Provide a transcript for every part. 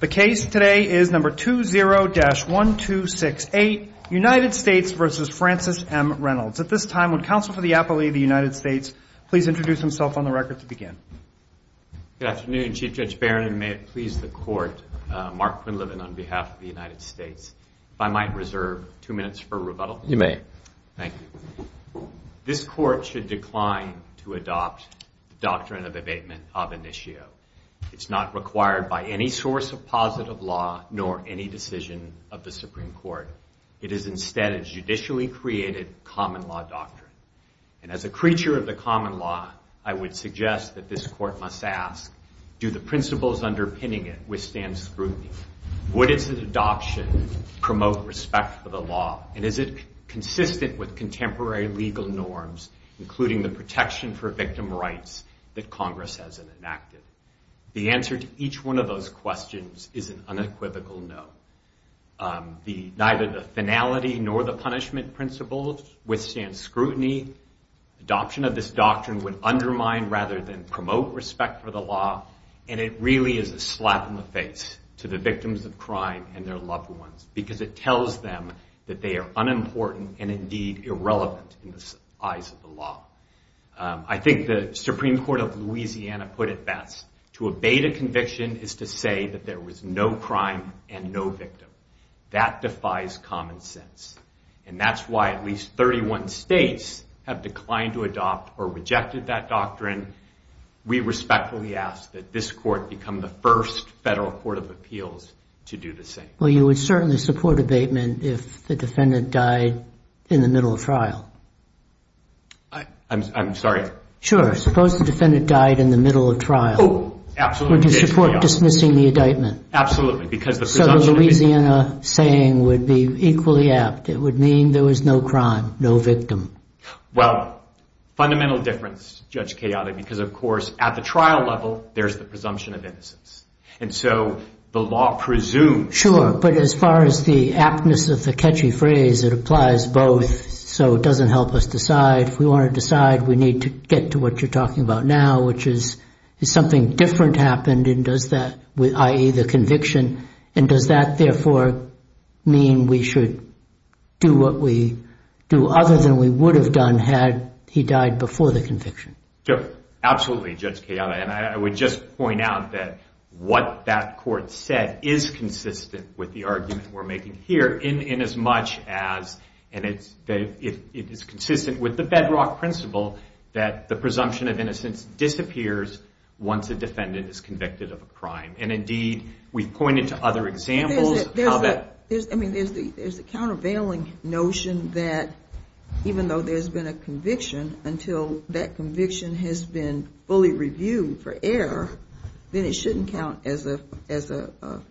The case today is number 20-1268, United States v. Francis M. Reynolds. At this time, would counsel for the Appellee of the United States please introduce himself on the record to begin? Good afternoon, Chief Judge Barron, and may it please the Court, Mark Quinlivan on behalf of the United States, if I might reserve two minutes for rebuttal? You may. Thank you. This Court should decline to adopt the doctrine of abatement of initio. It's not required by any source of positive law, nor any decision of the Supreme Court. It is instead a judicially created common law doctrine. And as a creature of the common law, I would suggest that this Court must ask, do the principles underpinning it withstand scrutiny? Would its adoption promote respect for the law, and is it consistent with contemporary legal norms, including the protection for victim rights that Congress has enacted? The answer to each one of those questions is an unequivocal no. Neither the finality nor the punishment principles withstand scrutiny. Adoption of this doctrine would undermine rather than promote respect for the law, and it really is a slap in the face to the victims of crime and their loved ones, because it the law. I think the Supreme Court of Louisiana put it best. To abate a conviction is to say that there was no crime and no victim. That defies common sense. And that's why at least 31 states have declined to adopt or rejected that doctrine. We respectfully ask that this Court become the first federal court of appeals to do the same. Well, you would certainly support abatement if the defendant died in the middle of trial. I'm sorry? Sure. Suppose the defendant died in the middle of trial. Oh, absolutely. Would you support dismissing the abatement? Absolutely, because the presumption of innocence. So the Louisiana saying would be equally apt. It would mean there was no crime, no victim. Well, fundamental difference, Judge Chaotic, because of course at the trial level, there's the presumption of innocence. And so the law presumes that there was no crime. Sure. But as far as the aptness of the catchy phrase, it applies both. So it doesn't help us decide. If we want to decide, we need to get to what you're talking about now, which is, is something different happened and does that, i.e. the conviction, and does that therefore mean we should do what we do other than we would have done had he died before the conviction? Sure. Absolutely, Judge Kiyama. And I would just point out that what that court said is consistent with the argument we're making here in as much as, and it's consistent with the bedrock principle, that the presumption of innocence disappears once a defendant is convicted of a crime. And indeed, we've pointed to other examples of how that... There's a countervailing notion that even though there's been a conviction, until that conviction for error, then it shouldn't count as a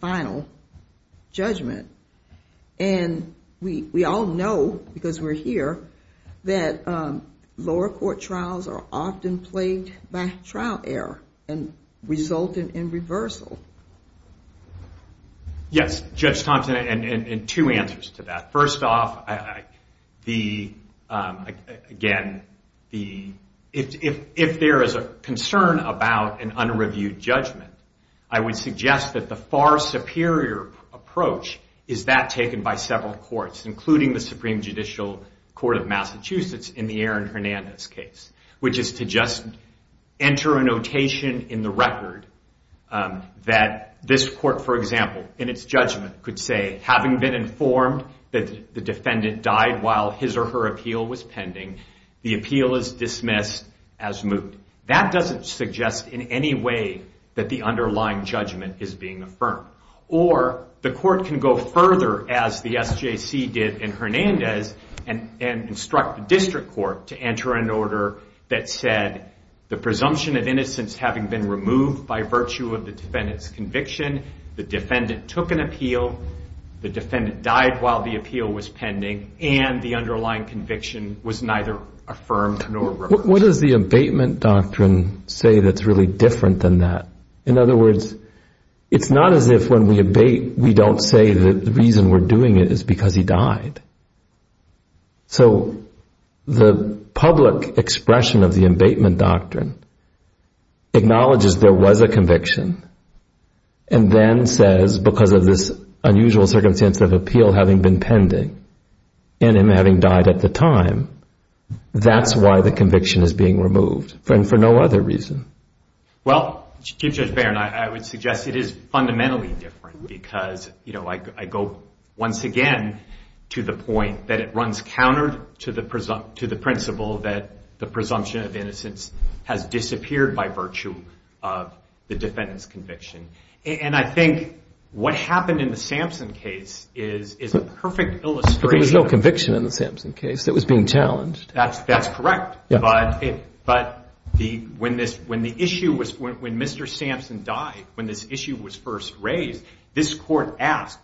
final judgment. And we all know, because we're here, that lower court trials are often plagued by trial error and result in reversal. Yes, Judge Thompson, and two answers to that. First off, again, if there is a concern about an unreviewed judgment, I would suggest that the far superior approach is that taken by several courts, including the Supreme Judicial Court of Massachusetts in the Aaron Hernandez case, which is to just enter a notation in the record that this court, for example, in its judgment could say, having been informed that the defendant died while his or her appeal was pending, the appeal is dismissed as moved. That doesn't suggest in any way that the underlying judgment is being affirmed. Or the court can go further, as the SJC did in Hernandez, and instruct the district court to enter an order that said, the presumption of innocence having been removed by virtue of the defendant's conviction, the defendant took an appeal, the defendant died while the appeal was pending, and the underlying conviction was neither affirmed nor reversed. What does the abatement doctrine say that's really different than that? In other words, it's not as if when we abate, we don't say that the reason we're doing it is because he died. So, the public expression of the abatement doctrine acknowledges there was a conviction, and then says, because of this unusual circumstance of appeal having been pending, and him having died at the time, that's why the conviction is being removed, and for no other reason. Well, Chief Judge Barron, I would suggest it is fundamentally different, because I go once again to the point that it runs counter to the principle that the presumption of innocence has disappeared by virtue of the defendant's conviction. And I think what happened in the Sampson case is a perfect illustration of that. But there was no conviction in the Sampson case. It was being challenged. That's correct. But when Mr. Sampson died, when this issue was first raised, this court asked,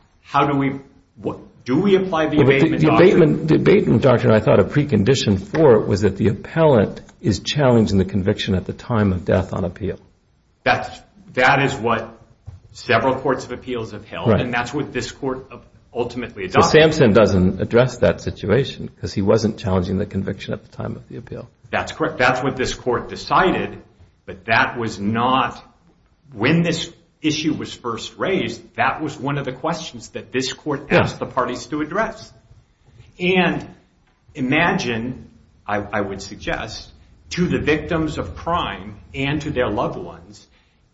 do we apply the abatement doctrine? The abatement doctrine, I thought, a precondition for it was that the appellant is challenging the conviction at the time of death on appeal. That is what several courts of appeals have held, and that's what this court ultimately adopted. But Sampson doesn't address that situation, because he wasn't challenging the conviction at the time of the appeal. That's correct. That's what this court decided, but that was not, when this issue was first raised, that was one of the questions that this court asked the parties to address. And imagine, I would suggest, to the victims of crime and to their loved ones,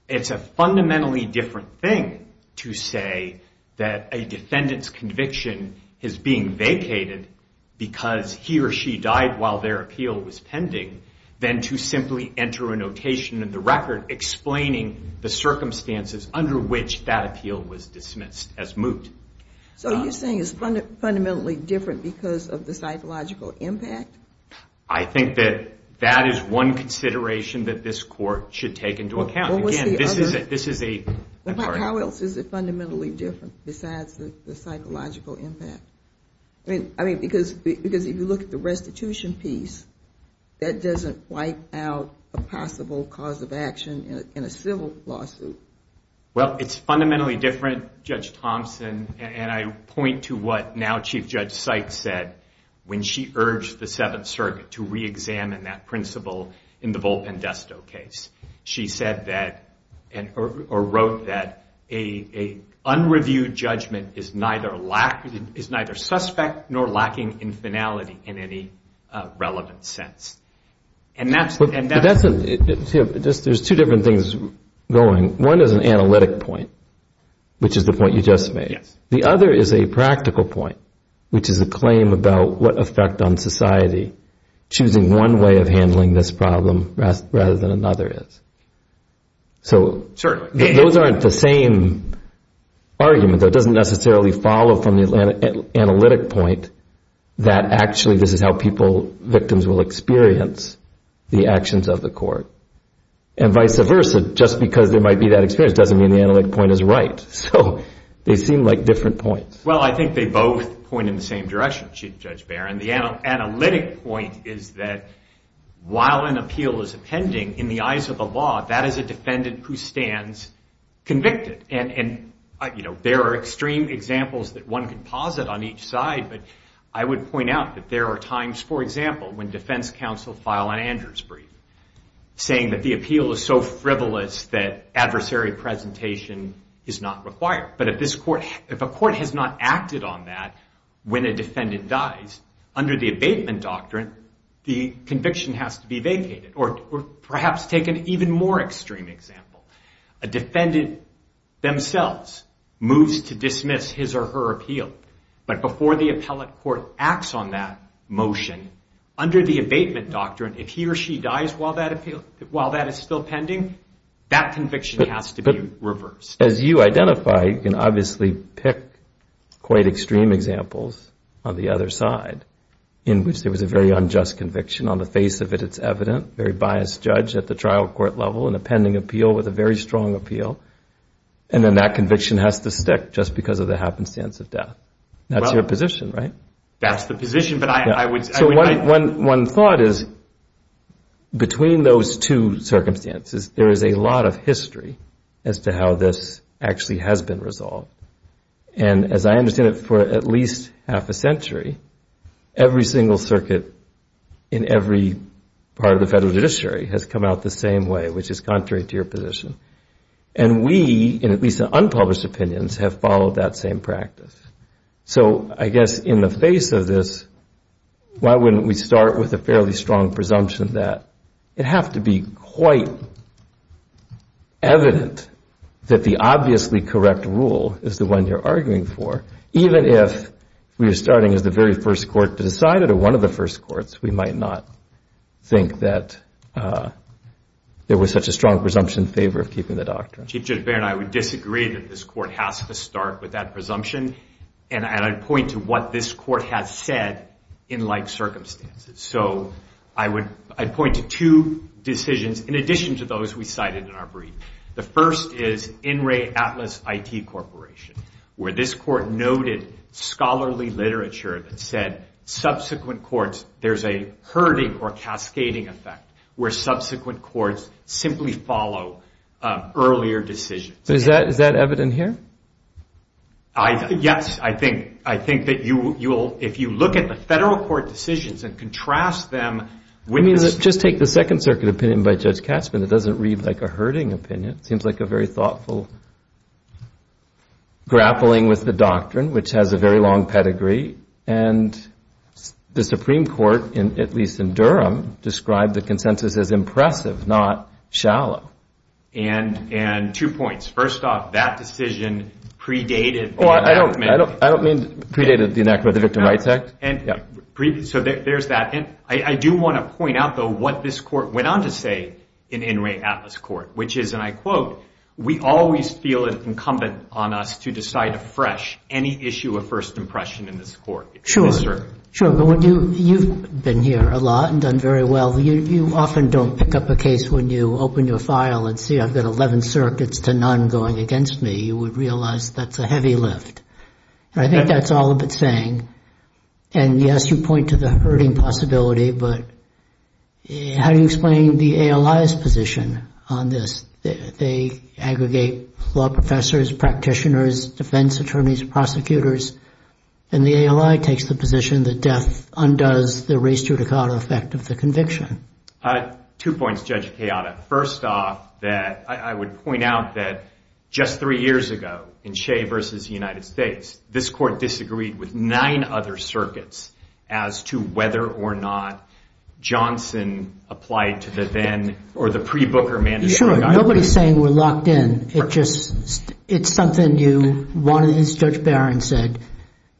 it's a fundamentally different thing to say that a defendant's conviction is being vacated because he or she died while their appeal was pending than to simply enter a notation in the record explaining the circumstances under which that appeal was dismissed as moot. So you're saying it's fundamentally different because of the psychological impact? I think that that is one consideration that this court should take into account. Again, this is a... How else is it fundamentally different besides the psychological impact? I mean, because if you look at the restitution piece, that doesn't wipe out a possible cause of action in a civil lawsuit. Well, it's fundamentally different, Judge Thompson, and I point to what now Chief Judge Seitz said when she urged the Seventh Circuit to reexamine that principle in the Volp and Desto case. She said that, or wrote that, an unreviewed judgment is neither suspect nor lacking in finality in any relevant sense. There's two different things going. One is an analytic point, which is the point you just made. The other is a practical point, which is a claim about what effect on society choosing one way of handling this problem rather than another is. So those aren't the same argument, though it doesn't necessarily follow from the analytic point that actually this is how victims will experience the actions of the court. And vice versa, just because there might be that experience doesn't mean the analytic point is right. So they seem like different points. Well, I think they both point in the same direction, Chief Judge Barron. The analytic point is that while an appeal is appending, in the eyes of the law, that is a defendant who stands convicted. And there are extreme examples that one could posit on each side. But I would point out that there are times, for example, when defense counsel file an Andrews brief saying that the appeal is so frivolous that adversary presentation is not required. But if a court has not acted on that when a defendant dies, under the abatement doctrine, the conviction has to be vacated. Or perhaps take an even more extreme example. A defendant themselves moves to dismiss his or her appeal. But before the appellate court acts on that motion, under the abatement doctrine, if he or she dies while that is still pending, that conviction has to be reversed. As you identify, you can obviously pick quite extreme examples on the other side in which there was a very unjust conviction. On the face of it, it's evident. Very biased judge at the trial court level in a pending appeal with a very strong appeal. And then that conviction has to stick just because of the happenstance of death. That's your position, right? That's the position. But I would say one thought is between those two circumstances, there is a lot of history as to how this actually has been resolved. And as I understand it, for at least half a century, every single circuit in every part of the federal judiciary has come out the same way, which is contrary to your position. And we, in at least unpublished opinions, have followed that same practice. So I guess in the face of this, why wouldn't we start with a fairly strong presumption that it have to be quite evident that the obviously correct rule is the one you're arguing for? Even if we are starting as the very first court to decide it, or one of the first courts, we might not think that there was such a strong presumption in favor of keeping the doctrine. Chief Judge Baird, I would disagree that this court has to start with that presumption. And I'd point to what this court has said in like circumstances. So I'd point to two decisions in addition to those we cited in our brief. The first is In Re Atlas IT Corporation, where this court noted scholarly literature that said subsequent courts, there's a herding or cascading effect, where subsequent courts simply follow earlier decisions. So is that evident here? Yes, I think. If you look at the federal court decisions and contrast them with this. Just take the Second Circuit opinion by Judge Katzmann. It doesn't read like a herding opinion. It seems like a very thoughtful grappling with the doctrine, which has a very long pedigree. And the Supreme Court, at least in Durham, described the consensus as impressive, not shallow. And two points. First off, that decision predated. I don't mean predated the enactment of the Victim Rights Act. So there's that. I do want to point out, though, what this court went on to say in In Re Atlas Court, which is, and I quote, we always feel it incumbent on us to decide afresh any issue of first impression in this court. Sure. Sure. You've been here a lot and done very well. You often don't pick up a case when you open your file and see I've got 11 circuits to none going against me. You would realize that's a heavy lift. I think that's all of it's saying. And yes, you point to the herding possibility. But how do you explain the ALI's position on this? They aggregate law professors, practitioners, defense attorneys, prosecutors. And the ALI takes the position that death undoes the res judicata effect of the conviction. Two points, Judge Chiata. First off, I would point out that just three years ago in Shea versus the United States, this court disagreed with nine other circuits as to whether or not Johnson applied to the then or the pre-Booker mandate. Sure. Nobody's saying we're locked in. It's something you wanted, as Judge Barron said.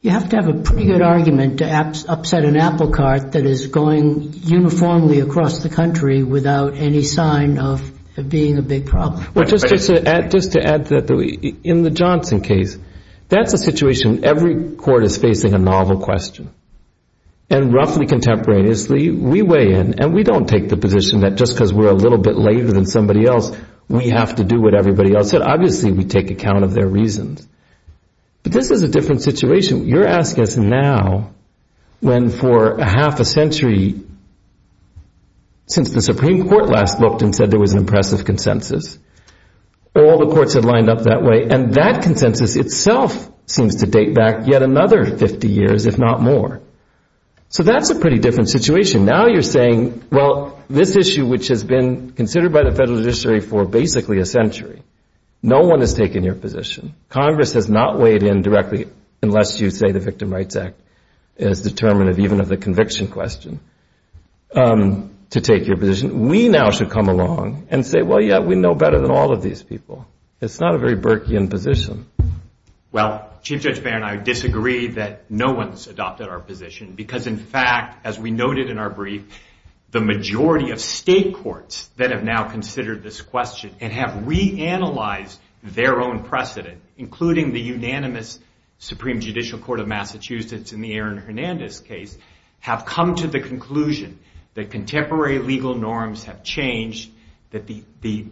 You have to have a pretty good argument to upset an apple cart that is going uniformly across the country without any sign of it being a big problem. Well, just to add to that, in the Johnson case, that's a situation every court is facing a novel question. And roughly contemporaneously, we weigh in. And we don't take the position that just because we're a little bit later than somebody else, we have to do what everybody else said. Obviously, we take account of their reasons. But this is a different situation. You're asking us now when for a half a century since the Supreme Court last looked and said there was an impressive consensus, all the courts have lined up that way. And that consensus itself seems to date back yet another 50 years, if not more. So that's a pretty different situation. Now you're saying, well, this issue, which has been considered by the federal judiciary for basically a century, no one has taken your position. Congress has not weighed in directly unless you say the Victim Rights Act is even of the conviction question to take your position. We now should come along and say, well, yeah, we know better than all of these people. It's not a very Burkean position. Well, Chief Judge Baird and I disagree that no one's adopted our position. Because in fact, as we noted in our brief, the majority of state courts that have now considered this question and have reanalyzed their own precedent, including the unanimous Supreme Judicial Court of Massachusetts in the Aaron Hernandez case, have come to the conclusion that contemporary legal norms have changed, that the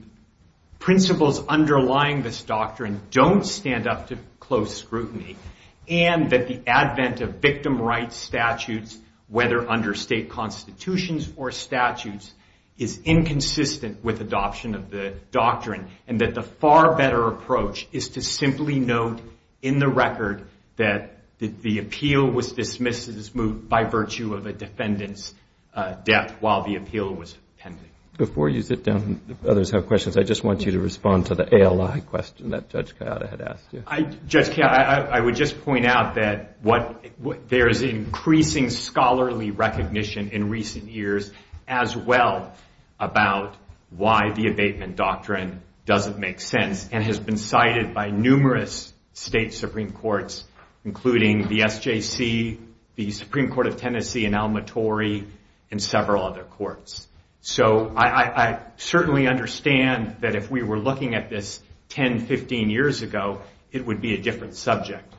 principles underlying this doctrine don't stand up to close scrutiny, and that the advent of victim rights statutes, whether under state constitutions or statutes, is inconsistent with adoption of the doctrine, and that the far better approach is to simply note in the record that the appeal was dismissed by virtue of a defendant's death while the appeal was pending. Before you sit down and others have questions, I just want you to respond to the ALI question that Judge Coyota had asked you. Judge Coyota, I would just point out that there is increasing scholarly recognition in recent years as well about why the abatement doctrine doesn't make sense, and has been cited by numerous state Supreme Courts, including the SJC, the Supreme Court of Tennessee, and Alma Torey, and several other courts. So I certainly understand that if we were looking at this 10, 15 years ago, it would be a different subject.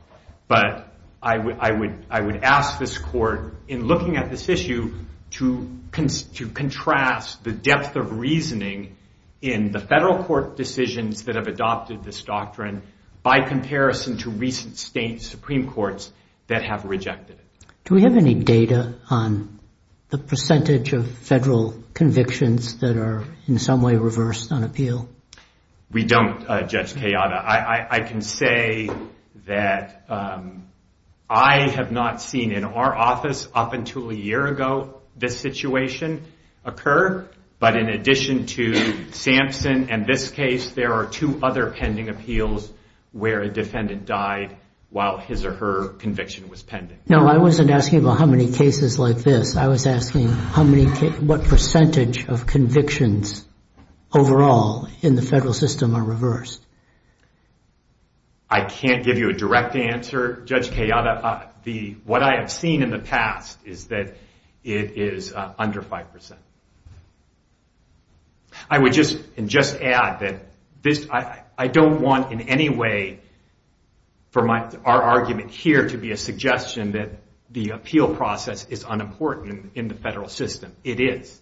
But I would ask this court, in looking at this issue, to contrast the depth of reasoning in the federal court decisions that have adopted this doctrine by comparison to recent state Supreme Courts that have rejected it. Do we have any data on the percentage of federal convictions that are in some way reversed on appeal? We don't, Judge Coyota. I can say that I have not seen in our office up until a year ago this situation occur. But in addition to Sampson and this case, there are two other pending appeals where a defendant died while his or her conviction was pending. No, I wasn't asking about how many cases like this. I was asking what percentage of convictions overall in the federal system are reversed. I can't give you a direct answer, Judge Coyota. What I have seen in the past is that it is under 5%. I would just add that I don't want in any way for our argument here to be a suggestion that the appeal process is unimportant in the federal system. It is.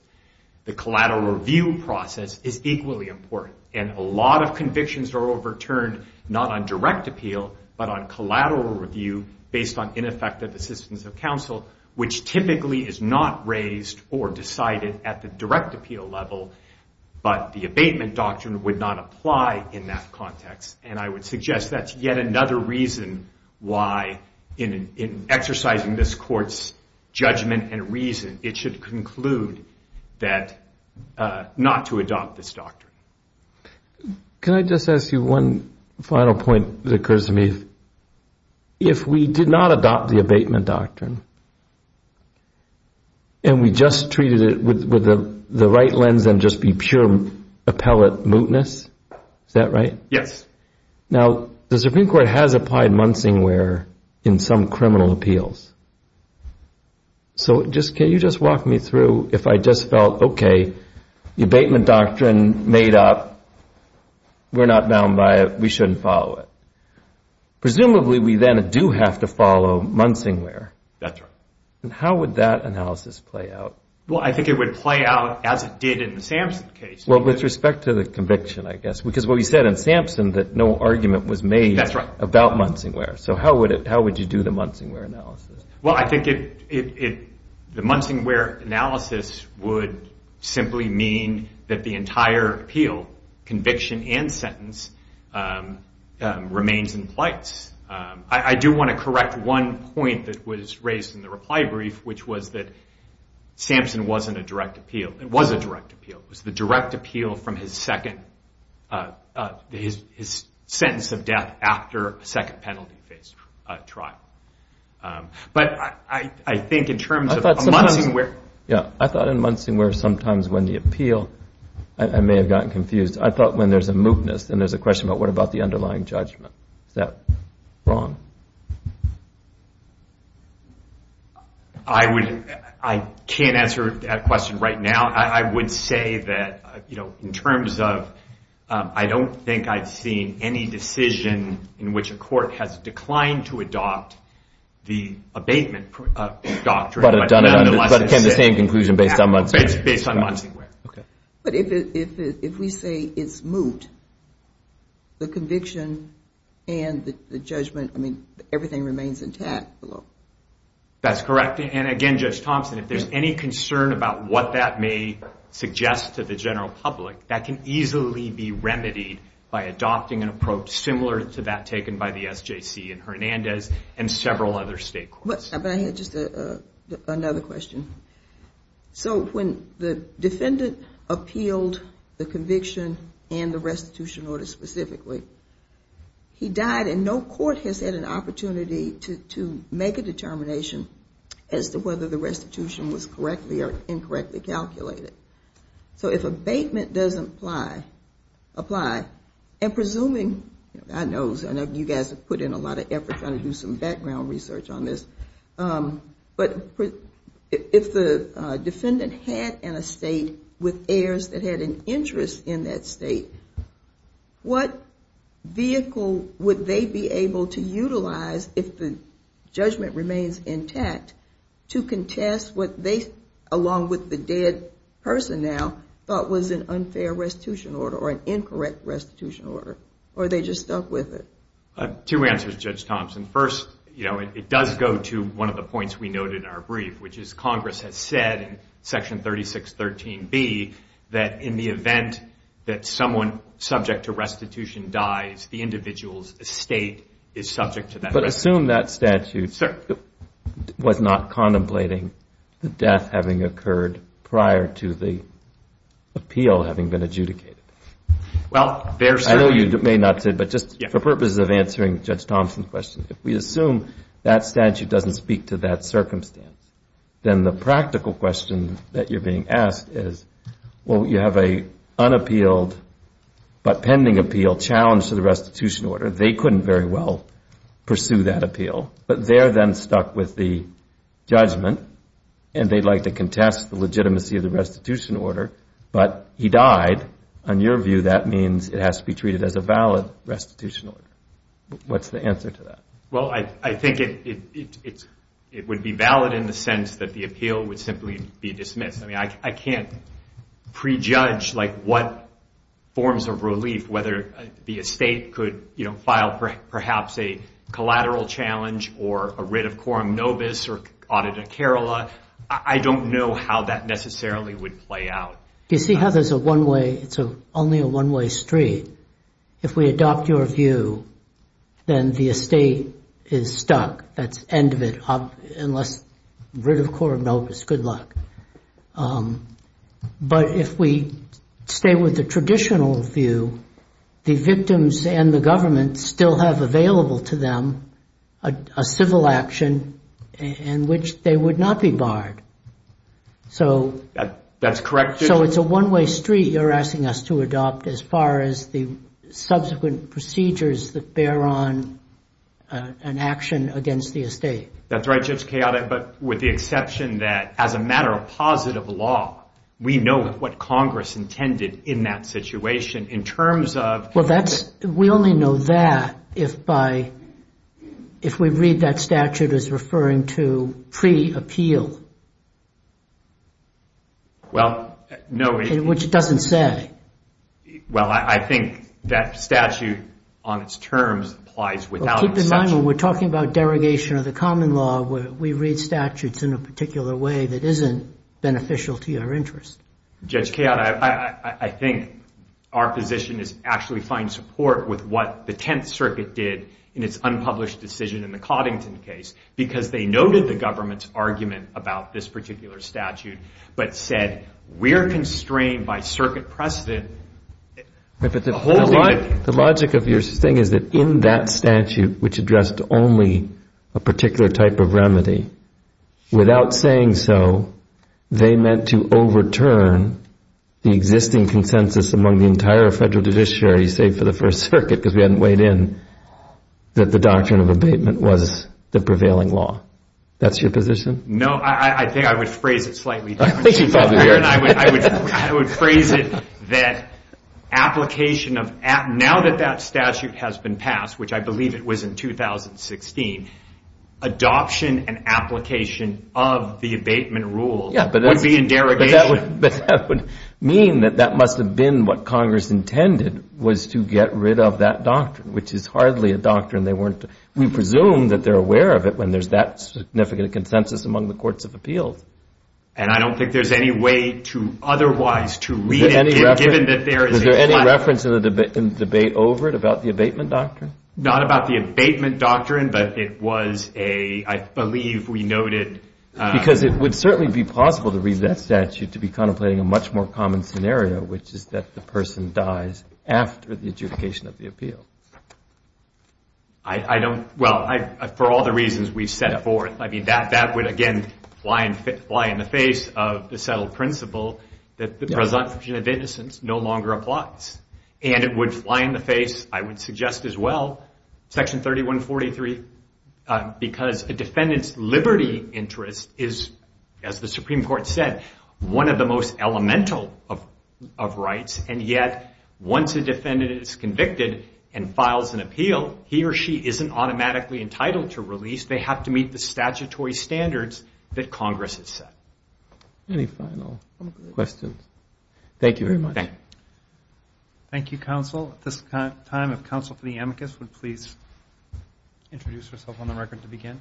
The collateral review process is equally important. And a lot of convictions are overturned not on direct appeal but on collateral review based on ineffective assistance of counsel, which typically is not raised or decided at the direct appeal level. But the abatement doctrine would not apply in that context. And I would suggest that's yet another reason why in exercising this court's judgment and reason, it should conclude that not to adopt this doctrine. Can I just ask you one final point that occurs to me? If we did not adopt the abatement doctrine and we just treated it with the right lens and just be pure appellate mootness, is that right? Yes. Now, the Supreme Court has applied Munsingware in some criminal appeals. So can you just walk me through if I just felt, OK, the abatement doctrine made up. We're not bound by it. We shouldn't follow it. Presumably, we then do have to follow Munsingware. That's right. And how would that analysis play out? Well, I think it would play out as it did in the Sampson case. Well, with respect to the conviction, I guess, because what you said in Sampson that no argument was made about Munsingware. So how would you do the Munsingware analysis? Well, I think the Munsingware analysis would simply mean that the entire appeal, conviction and sentence, remains in place. I do want to correct one point that was raised in the reply brief, which was that Sampson wasn't a direct appeal. It was a direct appeal. It was the direct appeal from his second sentence of death after a second penalty phase trial. But I think in terms of Munsingware. Yeah, I thought in Munsingware, sometimes when the appeal, I may have gotten confused, I thought when there's a mootness, then there's a question about what about the underlying judgment. Is that wrong? I can't answer that question right now. I would say that in terms of I don't think I've seen any decision in which a court has declined to adopt the abatement doctrine. But have done it on the same conclusion based on Munsingware. Based on Munsingware. But if we say it's moot, the conviction and the judgment, I mean, everything remains intact below. That's correct. And again, Judge Thompson, if there's any concern about what that may suggest to the general public, that can easily be remedied by adopting an approach similar to that taken by the SJC in Hernandez and several other state courts. But I had just another question. So when the defendant appealed the conviction and the restitution order specifically, he died. And no court has had an opportunity to make a determination as to whether the restitution was correctly or incorrectly calculated. So if abatement doesn't apply, and presuming, I know you guys have put in a lot of effort trying to do some background research on this. But if the defendant had an estate with heirs that had an interest in that state, what vehicle would they be able to utilize if the judgment remains intact to contest what they, along with the dead person now, thought was an unfair restitution order or an incorrect restitution order? Or they just stuck with it? Two answers, Judge Thompson. First, it does go to one of the points we noted in our brief, which is Congress has said in Section 3613B that in the event that someone subject to restitution dies, the individual's estate is subject to that restitution. But assume that statute was not contemplating the death having occurred prior to the appeal having been adjudicated. Well, there certainly is. I know you may not say, but just for purposes of answering Judge Thompson's question, if we assume that statute doesn't speak to that circumstance, then the practical question that you're being asked is, well, you have an unappealed but pending appeal challenged to the restitution order. They couldn't very well pursue that appeal. But they're then stuck with the judgment. And they'd like to contest the legitimacy of the restitution order. But he died. On your view, that means it has to be treated as a valid restitution order. What's the answer to that? Well, I think it would be valid in the sense that the appeal would simply be dismissed. I mean, I can't prejudge what forms of relief, whether the estate could file, perhaps, a collateral challenge or a writ of quorum nobis or audita carola. I don't know how that necessarily would play out. You see how there's a one-way? It's only a one-way street. If we adopt your view, then the estate is stuck. That's end of it, unless writ of quorum nobis. Good luck. But if we stay with the traditional view, the victims and the government still have available to them a civil action in which they would not be barred. So that's correct. So it's a one-way street you're asking us to adopt as far as the subsequent procedures that bear on an action against the estate. That's right, Judge Chaotic. But with the exception that, as a matter of positive law, we know what Congress intended in that situation in terms of Well, we only know that if we read that statute as referring to pre-appeal, which doesn't say. Well, I think that statute on its terms applies without exception. Keep in mind, when we're talking about derogation of the common law, we read statutes in a particular way that isn't beneficial to your interest. Judge Chaotic, I think our position is actually find support with what the Tenth Circuit did in its unpublished decision in the Coddington case, because they noted the government's argument about this particular statute, but said, we're constrained by circuit precedent. The logic of your thing is that in that statute, which addressed only a particular type of remedy, without saying so, they meant to overturn the existing consensus among the entire federal judiciary, save for the First Circuit, because we hadn't weighed in, that the doctrine of abatement was the prevailing law. That's your position? No, I think I would phrase it slightly differently. I think you'd probably be right. I would phrase it that application of, now that that statute has been passed, which I believe it was in 2016, adoption and application of the abatement rule would be in derogation. But that would mean that that must have been what Congress intended, was to get rid of that doctrine, which is hardly a doctrine they weren't, we presume that they're aware of it when there's that significant consensus among the courts of appeals. And I don't think there's any way to otherwise to read it, given that there is a class. Was there any reference in the debate over it about the abatement doctrine? Not about the abatement doctrine, but it was a, I believe we noted. Because it would certainly be possible to read that statute to be contemplating a much more common scenario, which is that the person dies after the adjudication of the appeal. I don't, well, for all the reasons we've set forth, I mean, that would, again, fly in the face of the settled principle that the presumption of innocence no longer applies. And it would fly in the face, I would suggest as well, section 3143, because a defendant's liberty interest is, as the Supreme Court said, one of the most elemental of rights. And yet, once a defendant is convicted and files an appeal, he or she isn't automatically entitled to release. They have to meet the statutory standards that Congress has set. Any final questions? Thank you very much. Thank you. Thank you, counsel. At this time, if counsel for the amicus would please introduce herself on the record to begin.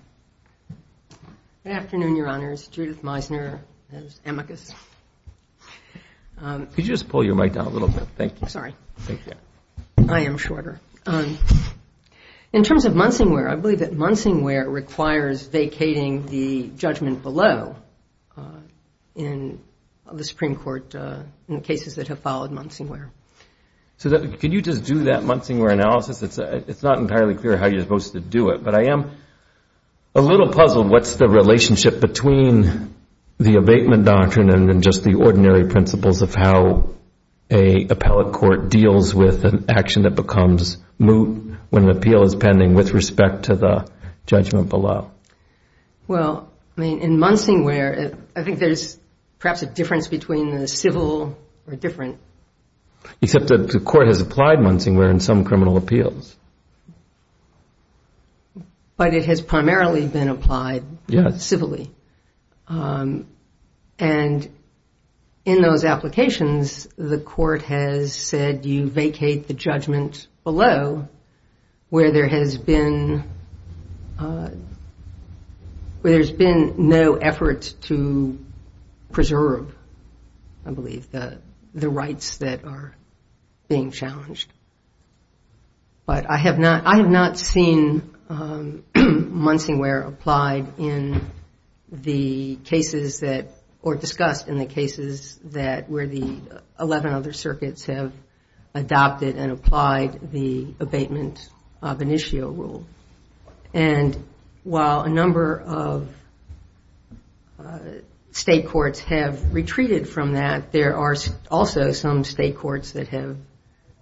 Good afternoon, your honors. Judith Meisner, as amicus. Could you just pull your mic down a little bit? Thank you. Sorry. I am shorter. In terms of Munsingware, I believe that Munsingware requires vacating the judgment below in the Supreme Court in the cases that have followed Munsingware. So could you just do that Munsingware analysis? It's not entirely clear how you're supposed to do it. But I am a little puzzled what's the relationship between the abatement doctrine and just the ordinary principles of how a appellate court deals with an action that becomes moot when an appeal is pending with respect to the judgment below. Well, I mean, in Munsingware, I think there's perhaps a difference between the civil or different. Except that the court has applied Munsingware in some criminal appeals. But it has primarily been applied civilly. And in those applications, the court has said you vacate the judgment below where there has been no effort to preserve, I believe, the rights that are being challenged. But I have not seen Munsingware applied in the cases that or discussed in the cases where the 11 other circuits have adopted and applied the abatement benicio rule. And while a number of state courts have retreated from that, there are also some state courts that have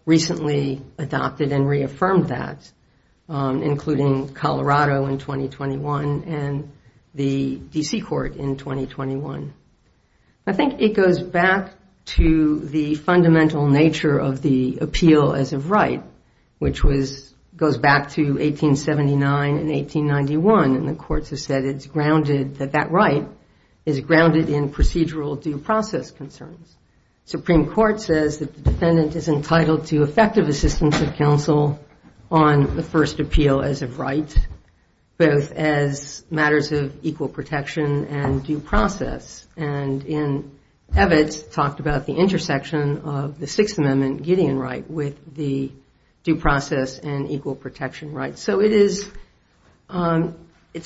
recently adopted and reaffirmed that, including Colorado in 2021 and the DC court in 2021. I think it goes back to the fundamental nature of the appeal as of right, which goes back to 1879 and 1891. And the courts have said it's grounded, that that right is grounded in procedural due process concerns. Supreme Court says that the defendant is entitled to effective assistance of counsel on the first appeal as of right, both as matters of equal protection and due process. And in Evitz, talked about the intersection of the Sixth Amendment Gideon right with the due process and equal protection right. So it's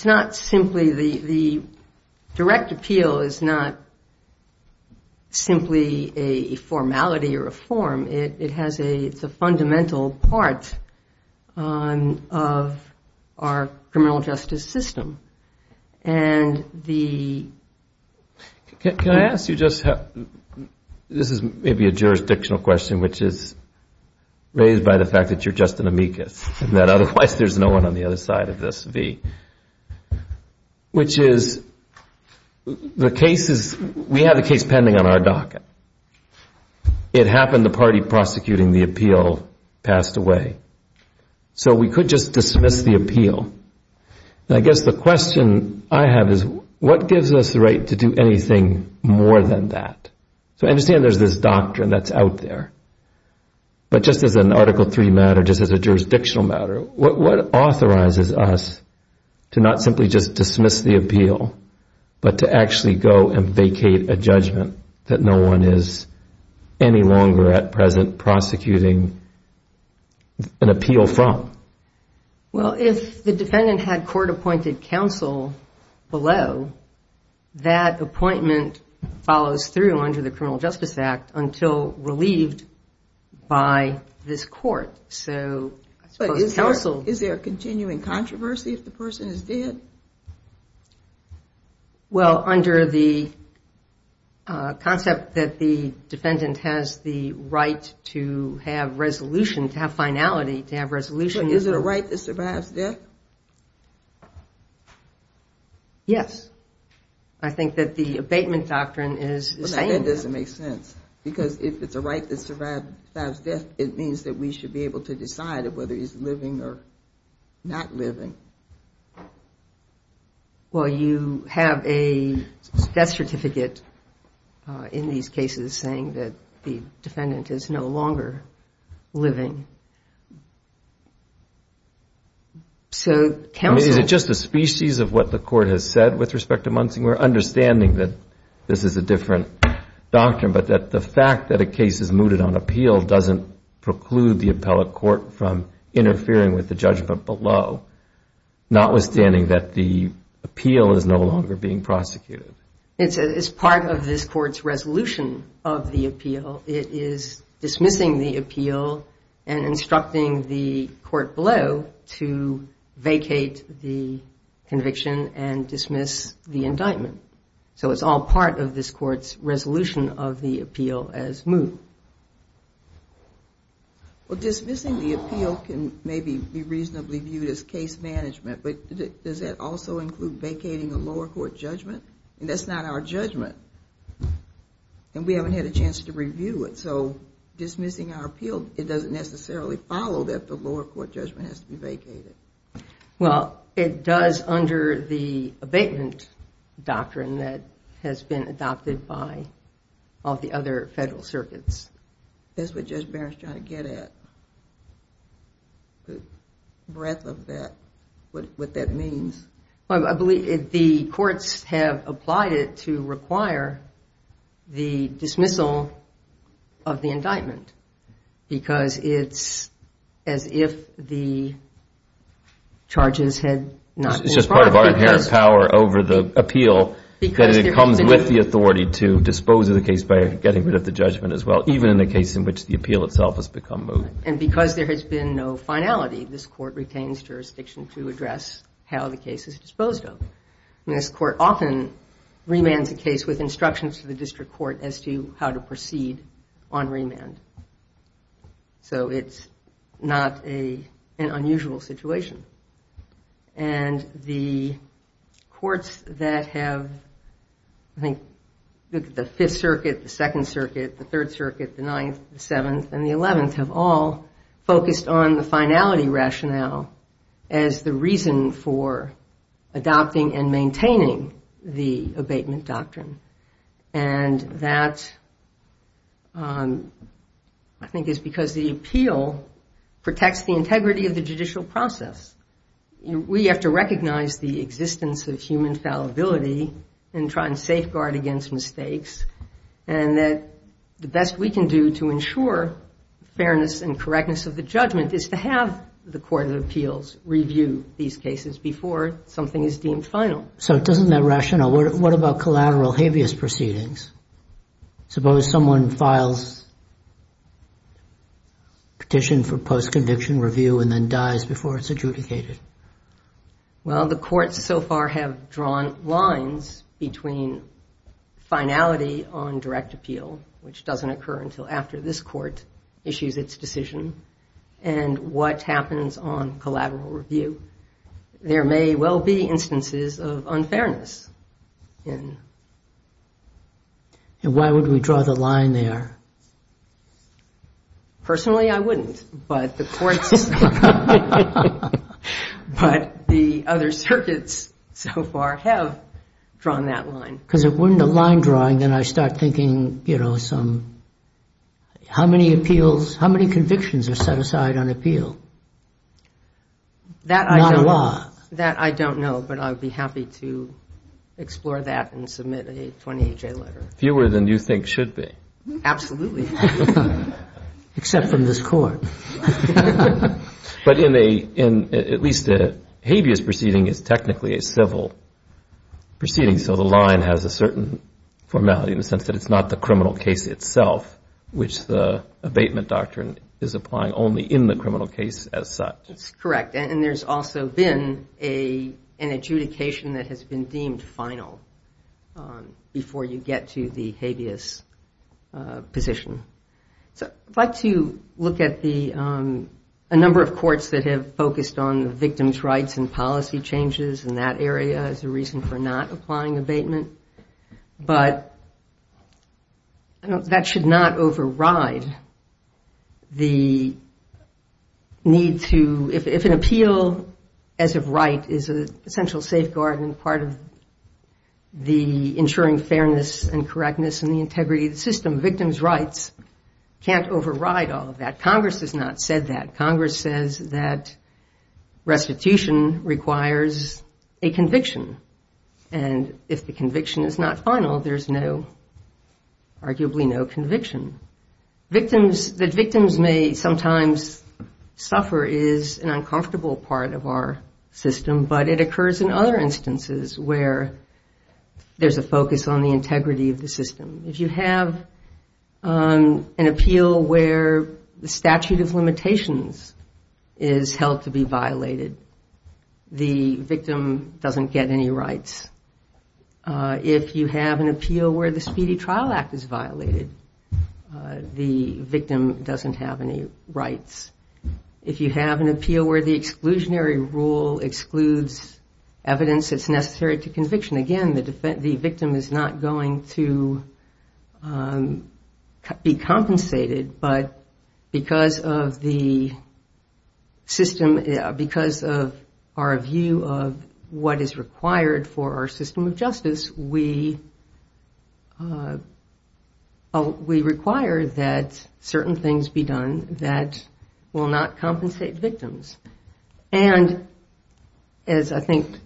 not simply the direct appeal is not simply a formality or a form. It's a fundamental part of our criminal justice system. And the- Can I ask you just how- this is maybe a jurisdictional question, which is raised by the fact that you're just an amicus, and that otherwise there's no one on the other side of this v. Which is, the case is, we have a case pending on our docket. It happened the party prosecuting the appeal passed away. So we could just dismiss the appeal. And I guess the question I have is, what gives us the right to do anything more than that? So I understand there's this doctrine that's out there. But just as an Article III matter, just as a jurisdictional matter, what authorizes us to not simply just dismiss the appeal, but to actually go and vacate a judgment that no one is any longer at present prosecuting an appeal from? Well, if the defendant had court-appointed counsel below, that appointment follows through under the Criminal Justice Act until relieved by this court. So I suppose counsel- Is there a continuing controversy if the person is dead? Well, under the concept that the defendant has the right to have resolution, to have finality, to have resolution- But is it a right that survives death? Yes. I think that the abatement doctrine is saying that. But that doesn't make sense. Because if it's a right that survives death, it means that we should be able to decide whether he's living or not living. Well, you have a death certificate in these cases saying that the defendant is no longer living. So counsel- I mean, is it just a species of what the court has said with respect to Munsing? We're understanding that this is a different doctrine. But that the fact that a case is mooted on appeal doesn't preclude the appellate court from interfering with the judgment below, notwithstanding that the appeal is no longer being prosecuted. It's part of this court's resolution of the appeal. It is dismissing the appeal and instructing the court below to vacate the conviction and dismiss the indictment. So it's all part of this court's resolution of the appeal as moot. Well, dismissing the appeal can maybe be reasonably viewed as case management. But does that also include vacating a lower court judgment? And that's not our judgment. And we haven't had a chance to review it. So dismissing our appeal, it doesn't necessarily follow that the lower court judgment has to be vacated. Well, it does under the abatement doctrine that has been adopted by all the other federal circuits. That's what Judge Barron's trying to get at, the breadth of what that means. I believe the courts have applied it to require the dismissal of the indictment because it's as if the charges had not been brought. It's just part of our inherent power over the appeal that it comes with the authority to dispose of the case by getting rid of the judgment as well, even in the case in which the appeal itself has become moot. And because there has been no finality, this court retains jurisdiction to address how the case is disposed of. And this court often remands a case with instructions to the district court as to how to proceed on remand. So it's not an unusual situation. And the courts that have, I think, the Fifth Circuit, the Second Circuit, the Third Circuit, the Ninth, the Seventh, and the Eleventh have all focused on the finality rationale as the reason for adopting and maintaining the abatement doctrine. And that, I think, is because the appeal protects the integrity of the judicial process. We have to recognize the existence of human fallibility and try and safeguard against mistakes. And that the best we can do to ensure fairness and correctness of the judgment is to have the Court of Appeals review these cases before something is deemed final. So doesn't that rationale? What about collateral habeas proceedings? Suppose someone files petition for post-conviction review and then dies before it's adjudicated? Well, the courts so far have drawn lines between finality on direct appeal, which doesn't occur until after this court issues its decision, and what happens on collateral review. There may well be instances of unfairness in. And why would we draw the line there? Personally, I wouldn't. But the courts, but the other circuits so far have drawn that line. Because if we're in the line drawing, then I start thinking, you know, some, how many appeals, how many convictions are set aside on appeal? That I don't know. That I don't know. But I'd be happy to explore that and submit a 28-J letter. Fewer than you think should be. Absolutely. Except from this court. But in at least a habeas proceeding is technically a civil proceeding. So the line has a certain formality in the sense that it's not the criminal case itself, which the abatement doctrine is applying only in the criminal case as such. That's correct. And there's also been an adjudication that has been deemed final before you get to the habeas position. So I'd like to look at a number of courts that have focused on the victim's rights and policy changes in that area as a reason for not applying abatement. But that should not override the need to, if an appeal as of right is an essential safeguard and part of the ensuring fairness and correctness and the integrity of the system, victim's rights can't override all of that. Congress has not said that. Congress says that restitution requires a conviction. And if the conviction is not final, there's arguably no conviction. That victims may sometimes suffer is an uncomfortable part of our system, but it occurs in other instances where there's a focus on the integrity of the system. If you have an appeal where the statute of limitations is held to be violated, the victim doesn't get any rights. If you have an appeal where the Speedy Trial Act is violated, the victim doesn't have any rights. If you have an appeal where the exclusionary rule excludes evidence that's necessary to conviction, again, the victim is not going to be compensated. But because of our view of what is required for our system of justice, we require that certain things be done that will not compensate victims. And as I think-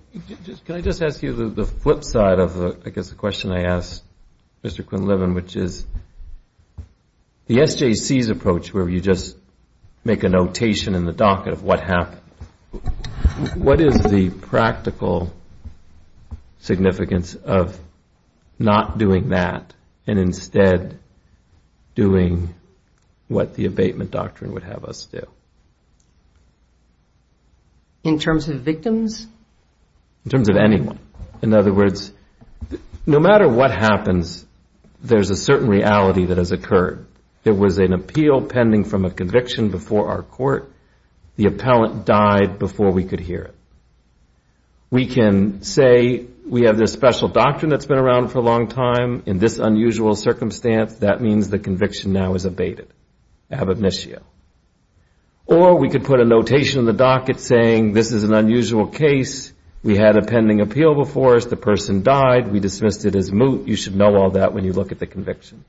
Can I just ask you the flip side of the question I asked Mr. Quinlivan, which is the SJC's approach, where you just make a notation in the docket of what happened, what is the practical significance of not doing that and instead doing what the abatement doctrine would have us do? In terms of victims? In terms of anyone. In other words, no matter what happens, there's a certain reality that has occurred. There was an appeal pending from a conviction before our court. The appellant died before we could hear it. We can say, we have this special doctrine that's been around for a long time. In this unusual circumstance, that means the conviction now is abated, ab initio. Or we could put a notation in the docket saying, this is an unusual case. We had a pending appeal before us. The person died. We dismissed it as moot. You should know all that when you look at the conviction.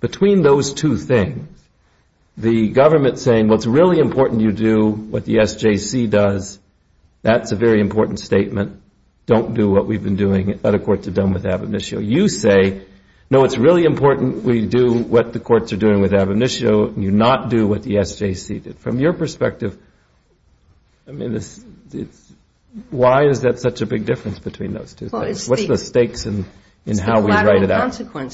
Between those two things, the government saying, what's really important you do, what the SJC does, that's a very important statement. Don't do what we've been doing. Other courts have done with ab initio. You say, no, it's really important we do what the courts are doing with ab initio. You not do what the SJC did. From your perspective, why is that such a big difference between those two things? What's the stakes in how we write it out? It's the collateral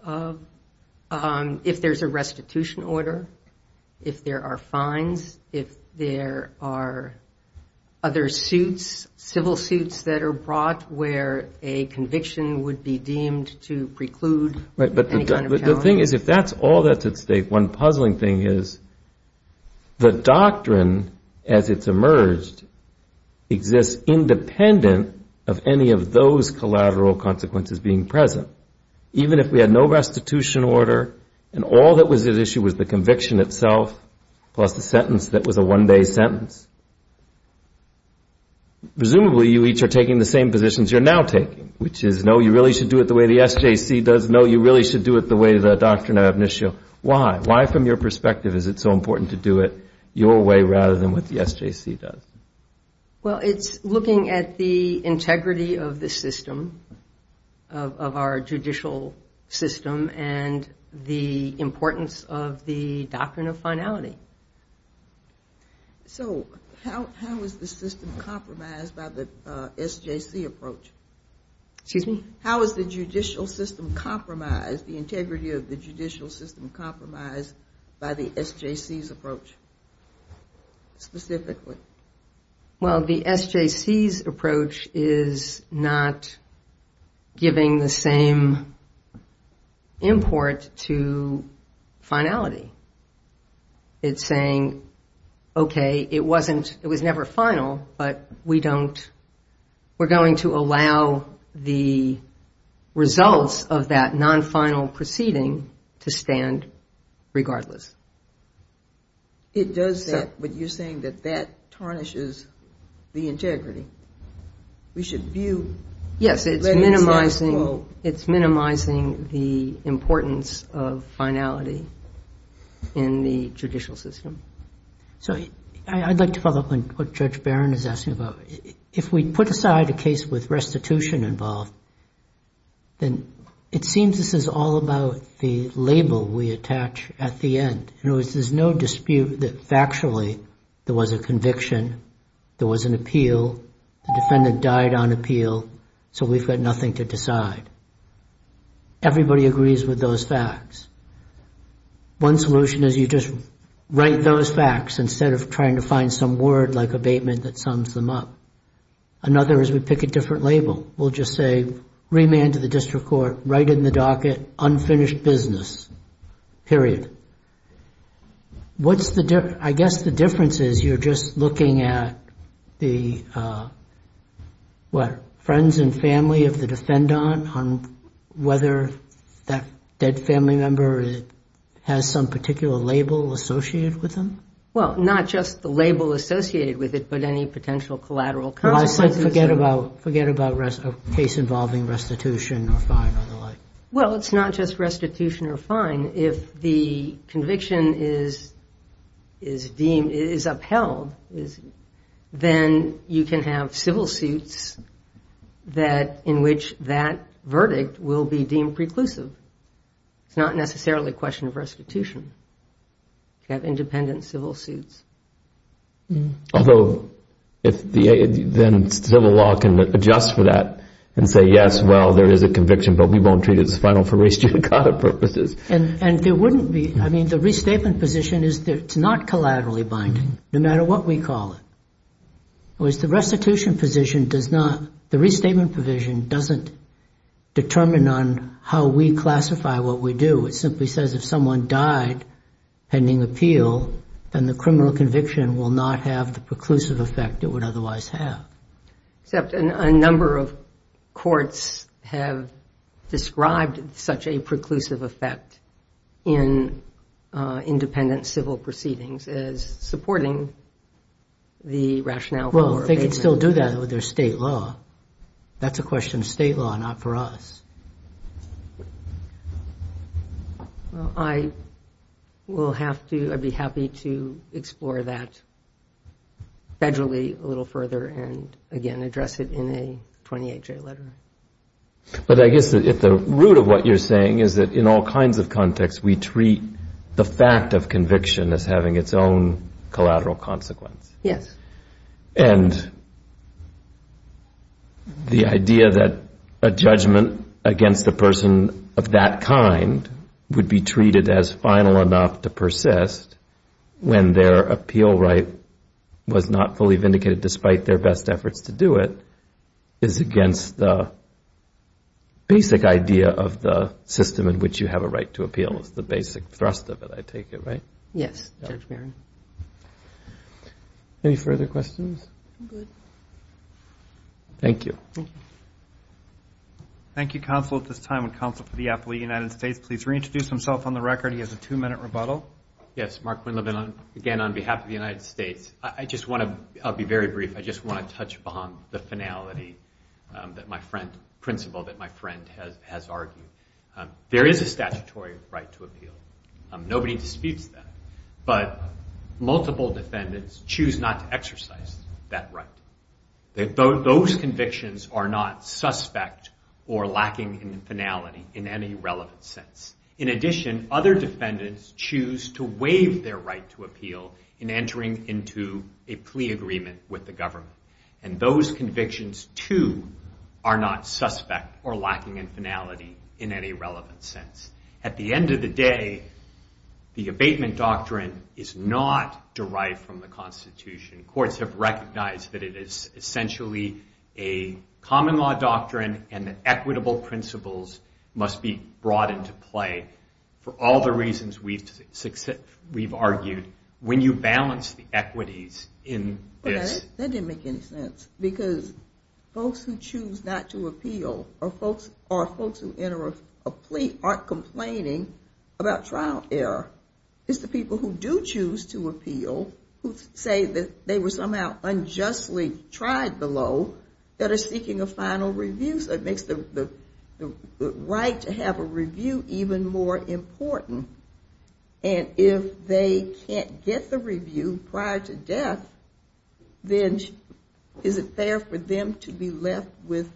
consequences. If there's a restitution order, if there are fines, if there are other suits, civil suits that are brought where a conviction would be deemed to preclude any kind of challenge. The thing is, if that's all that's at stake, one puzzling thing is the doctrine, as it's emerged, exists independent of any of those collateral consequences being present. Even if we had no restitution order, and all that was at issue was the conviction itself, plus the sentence that was a one-day sentence, presumably you each are taking the same positions you're now taking, which is, no, you really should do it the way the SJC does. No, you really should do it the way the doctrine of ab initio. Why? Why, from your perspective, is it so important to do it your way rather than what the SJC does? Well, it's looking at the integrity of the system, of our judicial system, and the importance of the doctrine of finality. So how is the system compromised by the SJC approach? Excuse me? How is the judicial system compromised, the integrity of the judicial system compromised by the SJC's approach, specifically? Well, the SJC's approach is not giving the same import to finality. It's saying, OK, it was never final, but we're going to allow the results of that non-final proceeding to stand regardless. It does that, but you're saying that that tarnishes the integrity. We should view that as, quote, It's minimizing the importance of finality in the judicial system. So I'd like to follow up on what Judge Barron is asking about. If we put aside a case with restitution involved, then it seems this is all about the label we attach at the end. In other words, there's no dispute that factually, there was a conviction, there was an appeal, the defendant died on appeal, so we've got nothing to decide. Everybody agrees with those facts. One solution is you just write those facts instead of trying to find some word like abatement that sums them up. Another is we pick a different label. We'll just say remand to the district court, write it in the docket, unfinished business, period. I guess the difference is you're just looking at the friends and family of the defendant on whether that family member has some particular label associated with them. Well, not just the label associated with it, but any potential collateral. Well, I said forget about a case involving restitution or fine or the like. Well, it's not just restitution or fine. If the conviction is upheld, then you can have civil suits in which that verdict will be deemed preclusive. It's not necessarily a question of restitution. You have independent civil suits. Although, then civil law can adjust for that and say, yes, well, there is a conviction, but we won't treat it as final for restitucata purposes. And there wouldn't be. I mean, the restatement position is that it's not collaterally binding, no matter what we call it. Whereas the restitution position does not, the restatement provision doesn't determine on how we classify what we do. It simply says if someone died pending appeal, then the criminal conviction will not have the preclusive effect it would otherwise have. Except a number of courts have described such a preclusive effect in independent civil proceedings as supporting the rationale for abatement. Well, they can still do that with their state law. That's a question of state law, not for us. Well, I will have to, I'd be happy to explore that federally a little further and, again, address it in a 28-J letter. But I guess at the root of what you're saying is that in all kinds of contexts, we treat the fact of conviction as having its own collateral consequence. Yes. And the idea that a judgment against a person of that kind would be treated as final enough to persist when their appeal right was not fully vindicated, despite their best efforts to do it, is against the basic idea of the system in which you have a right to appeal. It's the basic thrust of it, I take it, right? Yes, Judge Barron. Any further questions? Good. Thank you. Thank you. Thank you, Counsel. At this time, would Counsel for the Appellee of the United States please reintroduce himself on the record? He has a two-minute rebuttal. Yes. Mark Winleben, again, on behalf of the United States. I just want to, I'll be very brief, I just want to touch upon the finality that my friend, principle that my friend has argued. There is a statutory right to appeal. Nobody disputes that. But multiple defendants choose not to exercise that right. Those convictions are not suspect or lacking in finality in any relevant sense. In addition, other defendants choose to waive their right to appeal in entering into a plea agreement with the government. And those convictions, too, are not suspect or lacking in finality in any relevant sense. At the end of the day, the abatement doctrine is not derived from the Constitution. Courts have recognized that it is essentially a common law doctrine and the equitable principles must be brought into play for all the reasons we've argued. When you balance the equities in this... That didn't make any sense. Because folks who choose not to appeal or folks who enter a plea aren't complaining about trial error. It's the people who do choose to appeal who say that they were somehow unjustly tried below that are seeking a final review. So it makes the right to have a review even more important. Then is it fair for them to be left with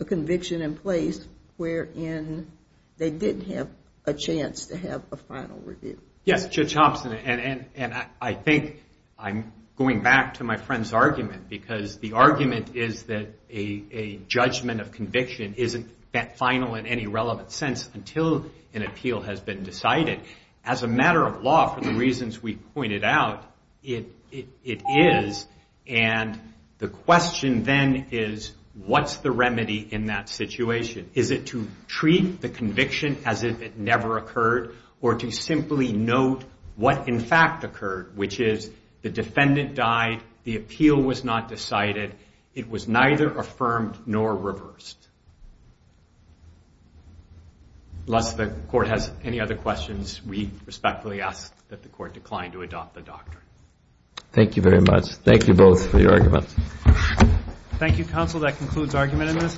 a conviction in place wherein they didn't have a chance to have a final review? Yes, Judge Hobson, and I think I'm going back to my friend's argument because the argument is that a judgment of conviction isn't final in any relevant sense until an appeal has been decided. As a matter of law, for the reasons we pointed out, it is, and the question then is what's the remedy in that situation? Is it to treat the conviction as if it never occurred or to simply note what in fact occurred, which is the defendant died, the appeal was not decided, it was neither affirmed nor reversed? Unless the court has any other questions, we respectfully ask that the court decline to adopt the doctrine. Thank you very much. Thank you both for your arguments. Thank you, counsel. That concludes argument in this.